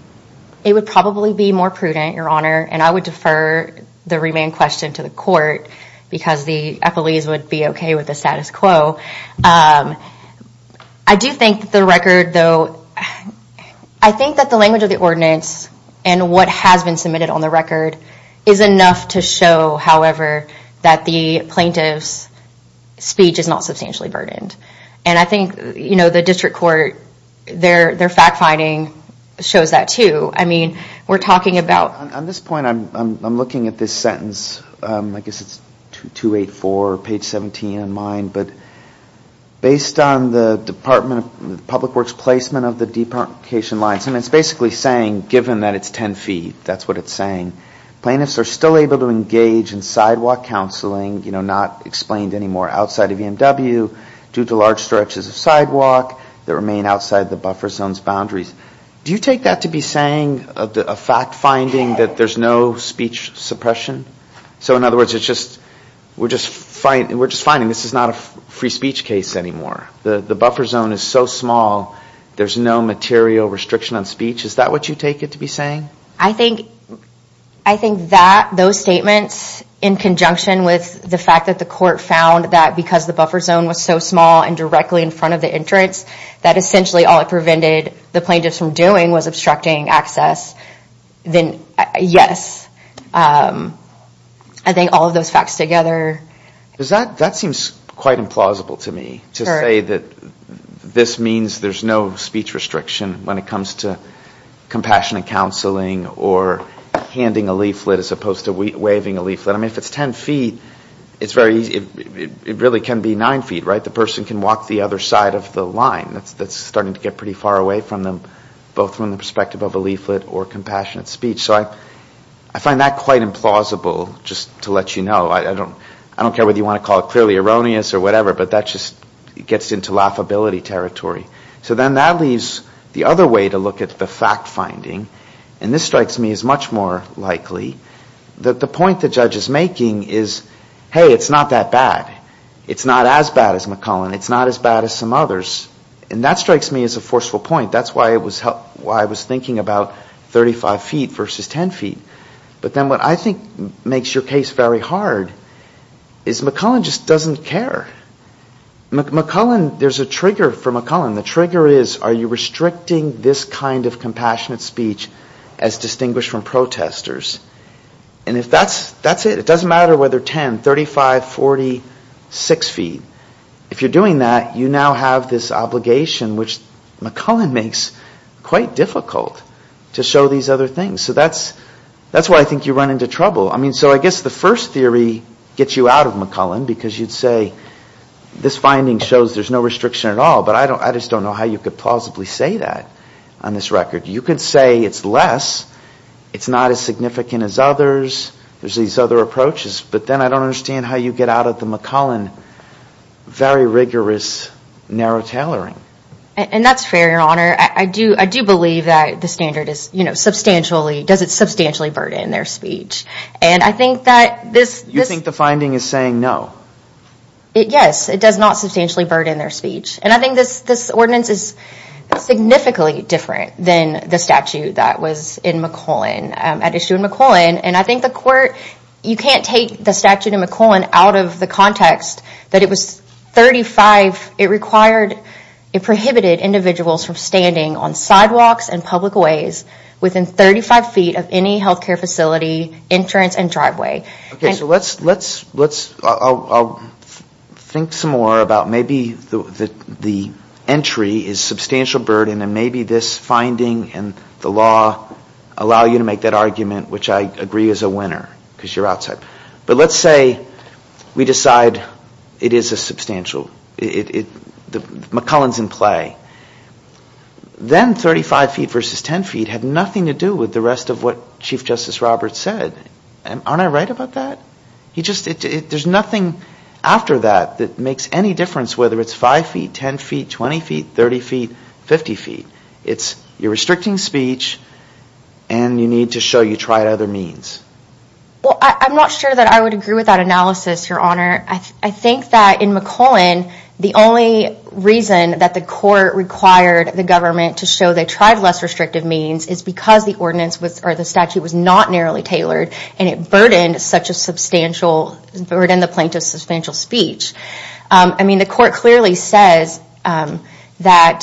It would probably be more prudent, Your Honor, and I would defer the remand question to the court because the appellees would be okay with the status quo. I do think that the record, though... I think that the language of the ordinance and what has been submitted on the record is enough to show, however, that the plaintiff's speech is not substantially burdened. And I think, you know, the district court, their fact-finding shows that, too. I mean, we're talking about... On this point, I'm looking at this sentence, I guess it's 284, page 17 in mind, but based on the Department of Public Works placement of the deprecation lines, I mean, it's basically saying, given that it's 10 feet, that's what it's saying, plaintiffs are still able to engage in sidewalk counseling, you know, not explained anymore outside of EMW due to large stretches of sidewalk that remain outside the buffer zone's boundaries. Do you take that to be saying a fact-finding that there's no speech suppression? So, in other words, it's just... We're just finding this is not a free speech case anymore. The buffer zone is so small, there's no material restriction on speech. Is that what you take it to be saying? I think that those statements, in conjunction with the fact that the court found that because the buffer zone was so small and directly in front of the entrance, that essentially all it prevented the plaintiffs from doing was obstructing access, then yes. I think all of those facts together... That seems quite implausible to me, to say that this means there's no speech restriction when it comes to compassionate counseling or handing a leaflet as opposed to waving a leaflet. I mean, if it's ten feet, it's very easy... It really can be nine feet, right? The person can walk the other side of the line. That's starting to get pretty far away from them, both from the perspective of a leaflet or compassionate speech. So I find that quite implausible, just to let you know. I don't care whether you want to call it clearly erroneous or whatever, but that just gets into laughability territory. So then that leaves the other way to look at the fact-finding, and this strikes me as much more likely, that the point the judge is making is, hey, it's not that bad. It's not as bad as McCullen. It's not as bad as some others. And that strikes me as a forceful point. That's why I was thinking about 35 feet versus 10 feet. But then what I think makes your case very hard is McCullen just doesn't care. There's a trigger for McCullen. The trigger is, are you restricting this kind of compassionate speech as distinguished from protesters? And if that's it, it doesn't matter whether 10, 35, 40, 6 feet. If you're doing that, you now have this obligation which McCullen makes quite difficult to show these other things. So that's why I think you run into trouble. So I guess the first theory gets you out of McCullen because you'd say this finding shows there's no restriction at all, but I just don't know how you could plausibly say that on this record. You could say it's less, it's not as significant as others, there's these other approaches, but then I don't understand how you get out of the McCullen very rigorous narrow tailoring. And that's fair, Your Honor. I do believe that the standard is substantially, does it substantially burden their speech. And I think that this... Yes, it does not substantially burden their speech. And I think this ordinance is significantly different than the statute that was in McCullen, at issue in McCullen. And I think the court, you can't take the statute in McCullen out of the context that it was 35, it required, it prohibited individuals from standing on sidewalks and public ways within 35 feet of any health care facility entrance and driveway. Okay, so let's... I'll think some more about maybe the entry is substantial burden and maybe this finding and the law allow you to make that argument which I agree is a winner, because you're outside. But let's say we decide it is a substantial... McCullen's in play. Then 35 feet versus 10 feet had nothing to do with the rest of what Chief Justice Roberts said. Aren't I right about that? There's nothing after that that makes any difference whether it's 5 feet, 10 feet, 20 feet, 30 feet, 50 feet. It's you're restricting speech and you need to show you tried other means. Well, I'm not sure that I would agree with that analysis, Your Honor. I think that in McCullen, the only reason that the court required the government to show they tried less restrictive means is because the statute was not narrowly tailored and it burdened the plaintiff's substantial speech. I mean, the court clearly says that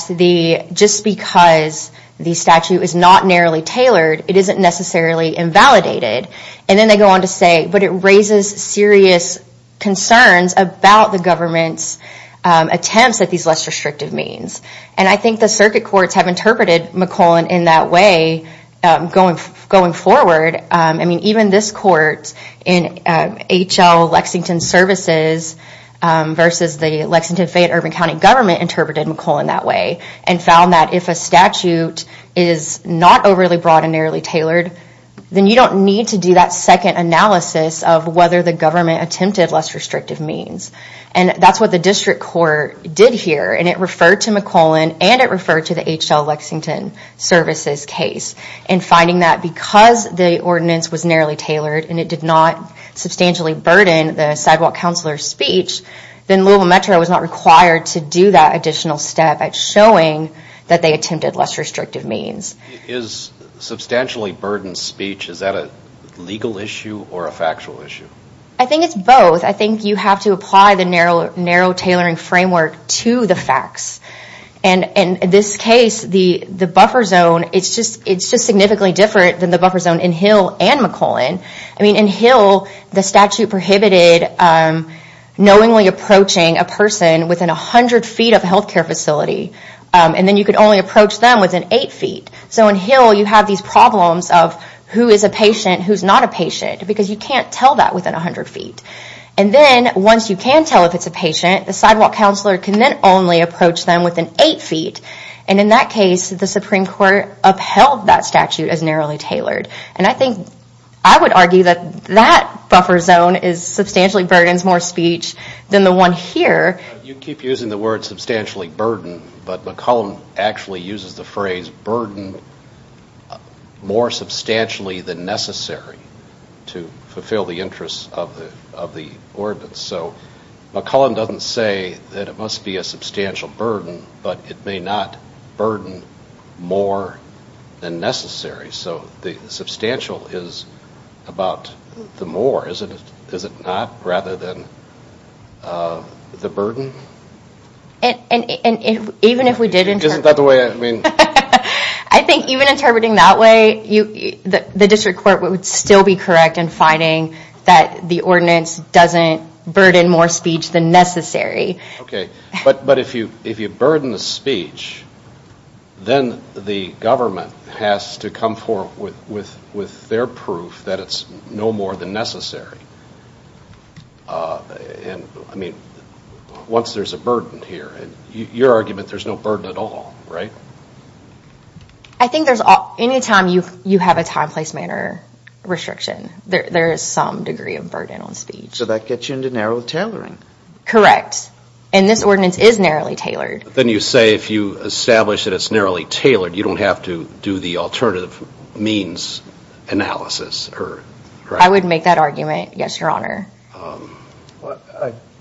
just because the statute is not narrowly tailored, it isn't necessarily invalidated. And then they go on to say, but it raises serious concerns about the government's attempts at these less restrictive means. And I think the circuit courts have interpreted McCullen in that way going forward. I mean, even this court in H.L. Lexington Services versus the Lexington-Fayette-Urban County government interpreted McCullen that way and found that if a statute is not overly broad and narrowly tailored, then you don't need to do that second analysis of whether the government attempted less restrictive means. And that's what the district court did here. And it referred to McCullen and it referred to the H.L. Lexington Services case. And finding that because the ordinance was narrowly tailored and it did not substantially burden the sidewalk counselor's speech, then Louisville Metro was not required to do that additional step at showing that they attempted less restrictive means. Is substantially burdened speech, is that a legal issue or a factual issue? I think it's both. I think you have to apply the narrow tailoring framework to the facts. And in this case, the buffer zone, it's just significantly different than the buffer zone in H.L. and McCullen. I mean, in H.L., the statute prohibited knowingly approaching a person within 100 feet of a healthcare facility. And then you could only approach them within 8 feet. So in H.L., you have these problems of who is a patient, who's not a patient, because you can't tell that within 100 feet. And then once you can tell if it's a patient, the sidewalk counselor can then only approach them within 8 feet. And in that case, the Supreme Court upheld that statute as narrowly tailored. And I think I would argue that that buffer zone substantially burdens more speech than the one here. You keep using the word substantially burden, but McCullen actually uses the phrase burden more substantially than necessary to fulfill the interests of the ordinance. So McCullen doesn't say that it must be a substantial burden, but it may not burden more than necessary. So the substantial is about the more, is it not, rather than the burden? And even if we did interpret... Isn't that the way, I mean... I think even interpreting that way, the district court would still be correct in finding that the ordinance doesn't burden more speech than necessary. Okay, but if you burden the speech, then the government has to come forward with their proof that it's no more than necessary. And, I mean, once there's a burden here, in your argument, there's no burden at all, right? I think there's... Any time you have a time, place, manner restriction, there is some degree of burden on speech. So that gets you into narrow tailoring. Correct. And this ordinance is narrowly tailored. Then you say if you establish that it's narrowly tailored, you don't have to do the alternative means analysis, correct? I would make that argument, yes, your honor.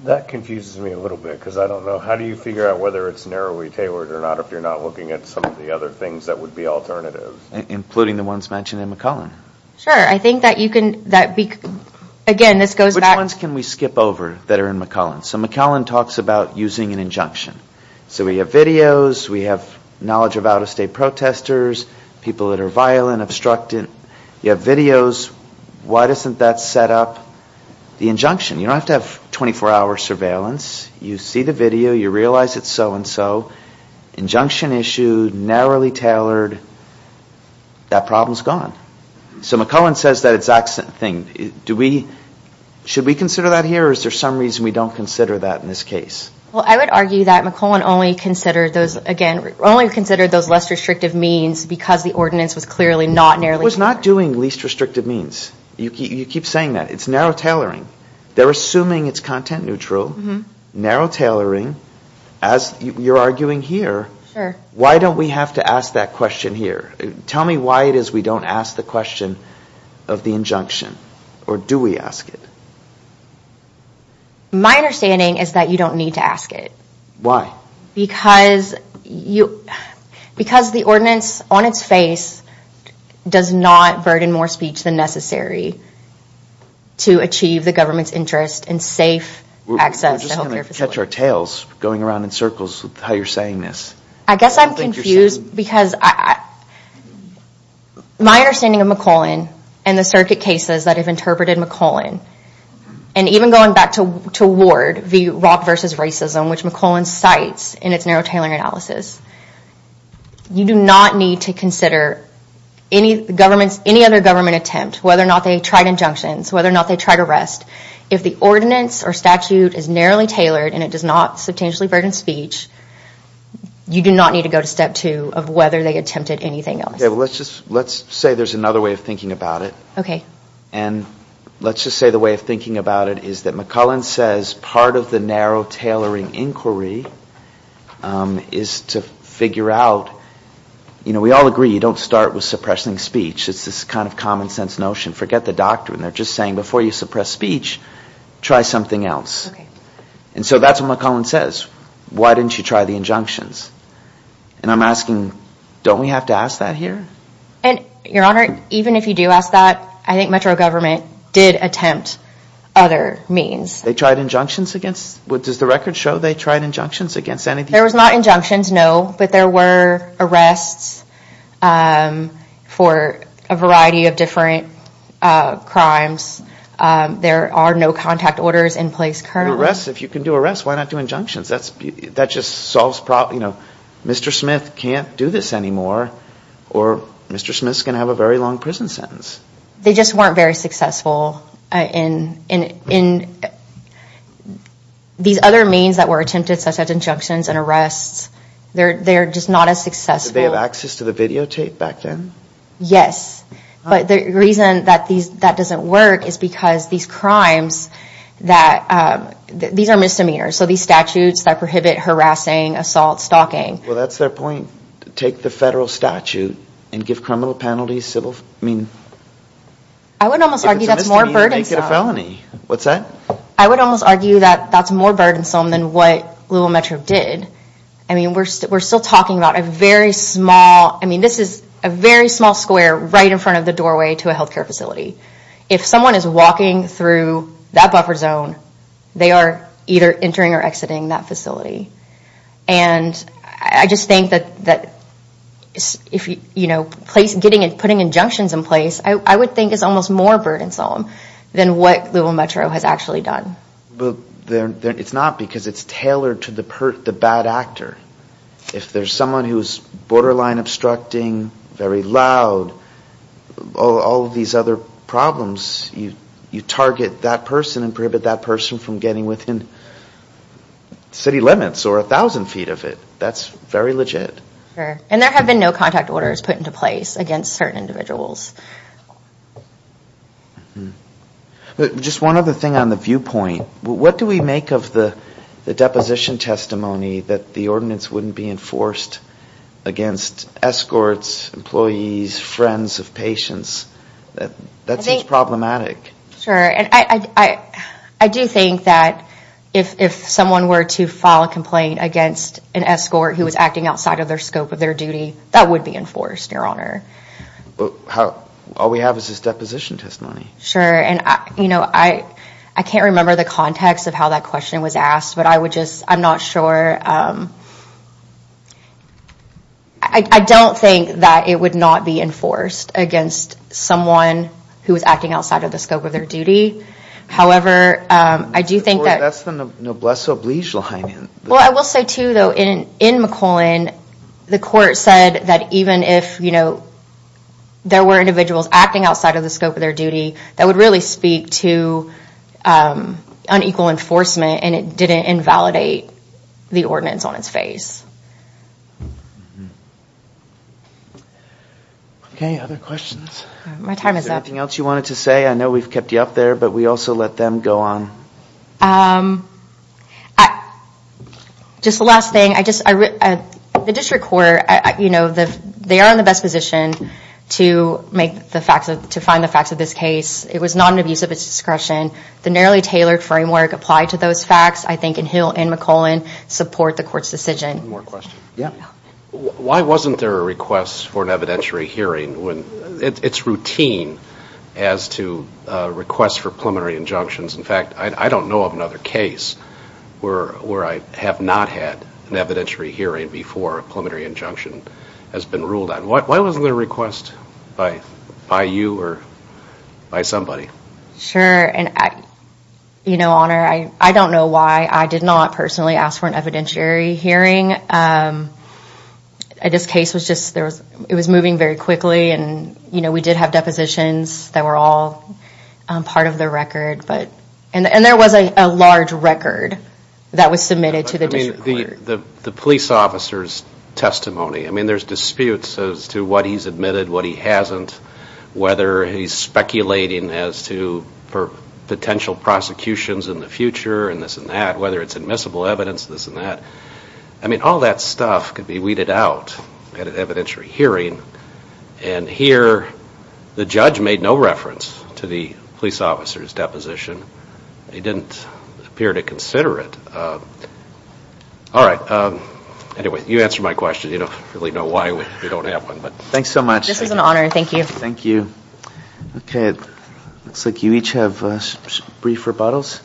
That confuses me a little bit, because I don't know. How do you figure out whether it's narrowly tailored or not if you're not looking at some of the other things that would be alternative? Including the ones mentioned in McClellan. Sure, I think that you can... Again, this goes back... Which ones can we skip over that are in McClellan? So McClellan talks about using an injunction. So we have videos, we have knowledge of out-of-state protesters, people that are violent, obstructive. You have videos. Why doesn't that set up the injunction? You don't have to have 24-hour surveillance. You see the video, you realize it's so-and-so. Injunction issued, narrowly tailored. That problem is gone. So McClellan says that it's an accident thing. Should we consider that here, or is there some reason we don't consider that in this case? Well, I would argue that McClellan only considered those, again, only considered those less restrictive means because the ordinance was clearly not narrowly tailored. It was not doing least restrictive means. You keep saying that. It's narrow tailoring. They're assuming it's content-neutral. Narrow tailoring. As you're arguing here, why don't we have to ask that question here? Tell me why it is we don't ask the question of the injunction, or do we ask it? My understanding is that you don't need to ask it. Why? Because the ordinance on its face does not burden more speech than necessary to achieve the government's interest in safe access to health care facilities. We're just going to catch our tails going around in circles with how you're saying this. I guess I'm confused because my understanding of McClellan and the circuit cases that have interpreted McClellan, and even going back to Ward, the rock versus racism, which McClellan cites in its narrow tailoring analysis, you do not need to consider any other government attempt, whether or not they tried injunctions, whether or not they tried arrest. If the ordinance or statute is narrowly tailored and it does not substantially burden speech, you do not need to go to step two of whether they attempted anything else. Let's say there's another way of thinking about it. Let's just say the way of thinking about it is that McClellan says part of the narrow tailoring inquiry is to figure out... We all agree you don't start with suppressing speech. It's this kind of common sense notion. Forget the doctrine. They're just saying before you suppress speech, try something else. And so that's what McClellan says. Why didn't you try the injunctions? And I'm asking, don't we have to ask that here? Your Honor, even if you do ask that, I think Metro government did attempt other means. They tried injunctions against... Does the record show they tried injunctions against anything? There was not injunctions, no, but there were arrests for a variety of different crimes. There are no contact orders in place currently. If you can do arrests, why not do injunctions? That just solves problems. Mr. Smith can't do this anymore or Mr. Smith's going to have a very long prison sentence. They just weren't very successful. These other means that were attempted, such as injunctions and arrests, they're just not as successful. Did they have access to the videotape back then? Yes, but the reason that doesn't work is because these crimes that... These are misdemeanors, so these statutes that prohibit harassing, assault, stalking. Well, that's their point. Take the federal statute and give criminal penalties, civil... I would almost argue that's more burdensome. What's that? I would almost argue that that's more burdensome than what Louisville Metro did. I mean, we're still talking about a very small... I mean, this is a very small square right in front of the doorway to a healthcare facility. If someone is walking through that buffer zone, they are either entering or exiting that facility. And I just think that, you know, putting injunctions in place, I would think is almost more burdensome than what Louisville Metro has actually done. But it's not because it's tailored to the bad actor. If there's someone who's borderline obstructing, very loud, all of these other problems, you target that person and prohibit that person from getting within city limits or 1,000 feet of it. That's very legit. And there have been no contact orders put into place against certain individuals. Just one other thing on the viewpoint. What do we make of the deposition testimony that the ordinance wouldn't be enforced against escorts, employees, friends of patients? That seems problematic. Sure, and I do think that if someone were to file a complaint against an escort who was acting outside of the scope of their duty, that would be enforced, Your Honor. All we have is this deposition testimony. Sure, and I can't remember the context of how that question was asked, but I'm not sure. I don't think that it would not be enforced against someone who was acting outside of the scope of their duty. However, I do think that... That's the Noblesse Oblige line. Well, I will say, too, though, in McClellan, the court said that even if there were individuals acting outside of the scope of their duty, that would really speak to unequal enforcement, and it didn't invalidate the ordinance on its face. Okay, other questions? My time is up. Is there anything else you wanted to say? I know we've kept you up there, but we also let them go on. Just the last thing, the district court, they are in the best position to find the facts of this case. It was not an abuse of its discretion. The narrowly tailored framework applied to those facts, I think, in Hill and McClellan, support the court's decision. Why wasn't there a request for an evidentiary hearing? It's routine as to requests for preliminary injunctions. In fact, I don't know of another case where I have not had an evidentiary hearing before a preliminary injunction has been ruled on. Why wasn't there a request by you or by somebody? Sure, and, you know, Honor, I don't know why I did not personally ask for an evidentiary hearing. This case was just, it was moving very quickly, and, you know, we did have depositions that were all part of the record, and there was a large record that was submitted to the district court. The police officer's testimony, I mean, there's disputes as to what he's admitted, what he hasn't, whether he's speculating as to potential prosecutions in the future and this and that, whether it's admissible evidence, this and that. I mean, all that stuff could be weeded out at an evidentiary hearing, and here the judge made no reference to the police officer's deposition. He didn't appear to consider it. All right, anyway, you answer my question. You don't really know why we don't have one, but... Thanks so much. This is an honor. Thank you. Thank you. Okay, it looks like you each have brief rebuttals.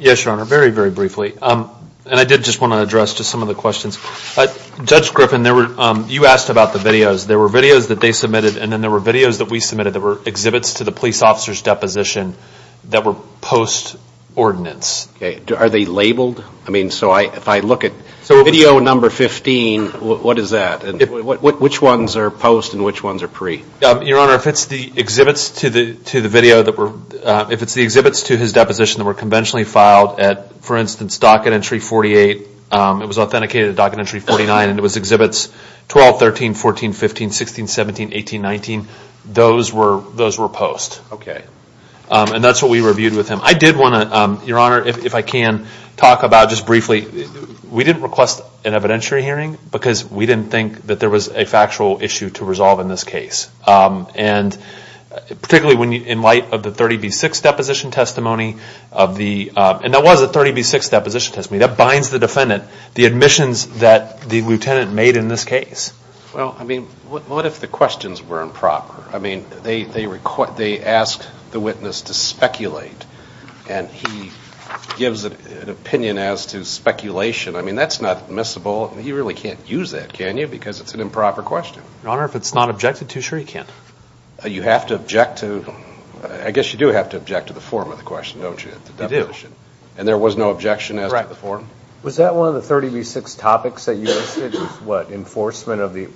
Yes, Your Honor, very, very briefly, and I did just want to address just some of the questions. Judge Griffin, you asked about the videos. There were videos that they submitted, and then there were videos that we submitted that were exhibits to the police officer's deposition that were post-ordinance. Okay, are they labeled? I mean, so if I look at video number 15, what is that? Which ones are post and which ones are pre? Your Honor, if it's the exhibits to the video, if it's the exhibits to his deposition that were conventionally filed at, for instance, docket entry 48, it was authenticated at docket entry 49, and it was exhibits 12, 13, 14, 15, 16, 17, 18, 19, those were post. Okay. And that's what we reviewed with him. I did want to, Your Honor, if I can, talk about just briefly, we didn't request an evidentiary hearing because we didn't think that there was a factual issue to resolve in this case. And particularly in light of the 30B6 deposition testimony, and that was a 30B6 deposition testimony, that binds the defendant, the admissions that the lieutenant made in this case. Well, I mean, what if the questions were improper? I mean, they asked the witness to speculate, and he gives an opinion as to speculation. I mean, that's not admissible. He really can't use that, can you, because it's an improper question. Your Honor, if it's not objected to, sure he can. You have to object to, I guess you do have to object to the form of the question. Don't you, at the deposition? You do. And there was no objection as to the form? Correct. Was that one of the 30B6 topics that you listed? It was, what, enforcement of the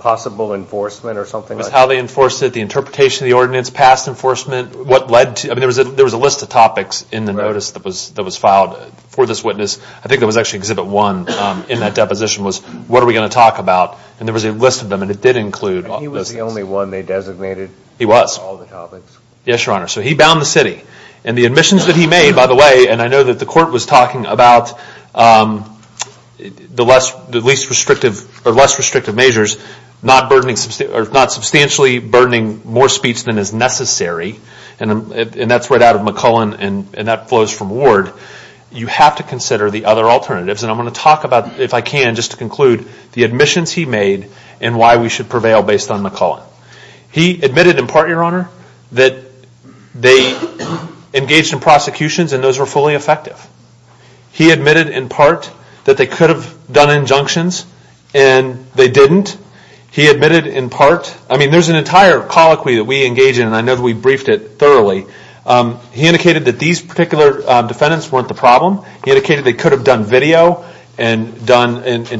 possible enforcement or something like that? It was how they enforced it, the interpretation of the ordinance, past enforcement, what led to it. I mean, there was a list of topics in the notice that was filed for this witness. I think it was actually Exhibit 1 in that deposition was, what are we going to talk about? And there was a list of them, and it did include all those things. He was the only one they designated. He was. All the topics. Yes, Your Honor. So he bound the city. And the admissions that he made, by the way, and I know that the court was talking about the least restrictive, or less restrictive measures, not substantially burdening more speech than is necessary, and that's right out of McCullen, and that flows from Ward. You have to consider the other alternatives, and I'm going to talk about, if I can, just to conclude, the admissions he made and why we should prevail based on McCullen. He admitted, in part, Your Honor, that they engaged in prosecutions, and those were fully effective. He admitted, in part, that they could have done injunctions, and they didn't. He admitted, in part, I mean, there's an entire colloquy that we engage in, and I know that we briefed it thoroughly. He indicated that these particular defendants weren't the problem. He indicated they could have done video and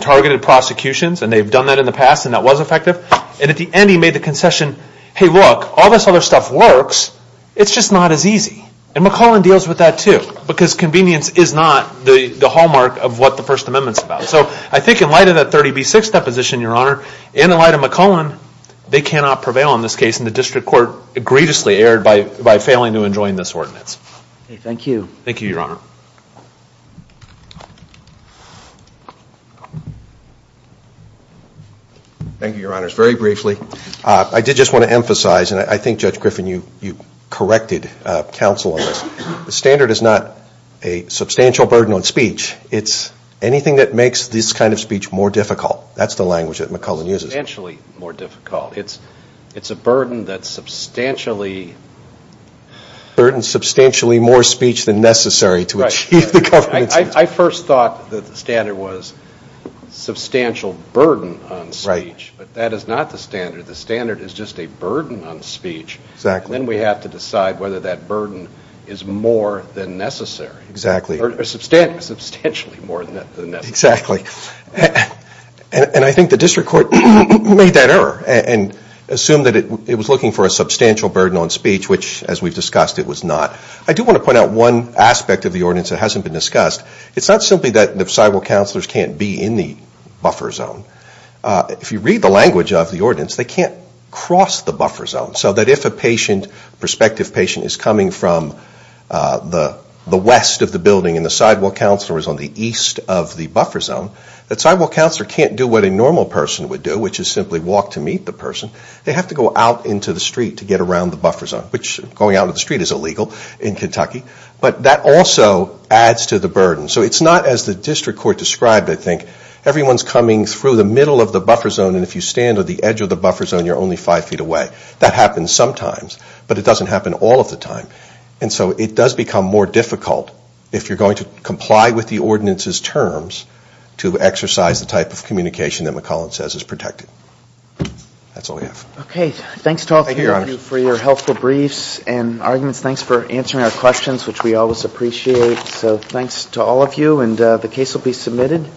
targeted prosecutions, and they've done that in the past, and that was effective. And at the end, he made the concession, hey, look, all this other stuff works. It's just not as easy, and McCullen deals with that, too, because convenience is not the hallmark of what the First Amendment's about. So I think in light of that 30B6 deposition, Your Honor, and in light of McCullen, they cannot prevail in this case, and the district court egregiously erred by failing to enjoin this ordinance. Thank you. Thank you, Your Honor. Thank you, Your Honors. Very briefly, I did just want to emphasize, and I think, Judge Griffin, you corrected counsel on this. The standard is not a substantial burden on speech. It's anything that makes this kind of speech more difficult. That's the language that McCullen uses. Substantially more difficult. It's a burden that's substantially... A burden substantially more speech than necessary to achieve the government's... I first thought that the standard was substantial burden on speech, but that is not the standard. The standard is just a burden on speech. Exactly. Then we have to decide whether that burden is more than necessary. Exactly. Or substantially more than necessary. Exactly. And I think the district court made that error and assumed that it was looking for a substantial burden on speech, which, as we've discussed, it was not. I do want to point out one aspect of the ordinance that hasn't been discussed. It's not simply that the societal counselors can't be in the buffer zone. If you read the language of the ordinance, they can't cross the buffer zone. So that if a patient, a prospective patient, is coming from the west of the building and the sidewalk counselor is on the east of the buffer zone, that sidewalk counselor can't do what a normal person would do, which is simply walk to meet the person. They have to go out into the street to get around the buffer zone, which going out into the street is illegal in Kentucky. But that also adds to the burden. So it's not as the district court described, I think. Everyone's coming through the middle of the buffer zone and if you stand at the edge of the buffer zone, you're only five feet away. That happens sometimes, but it doesn't happen all of the time. And so it does become more difficult if you're going to comply with the ordinance's terms to exercise the type of communication that McCollin says is protected. That's all I have. Okay, thanks to all three of you for your helpful briefs and arguments. Thanks for answering our questions, which we always appreciate. So thanks to all of you, and the case will be submitted.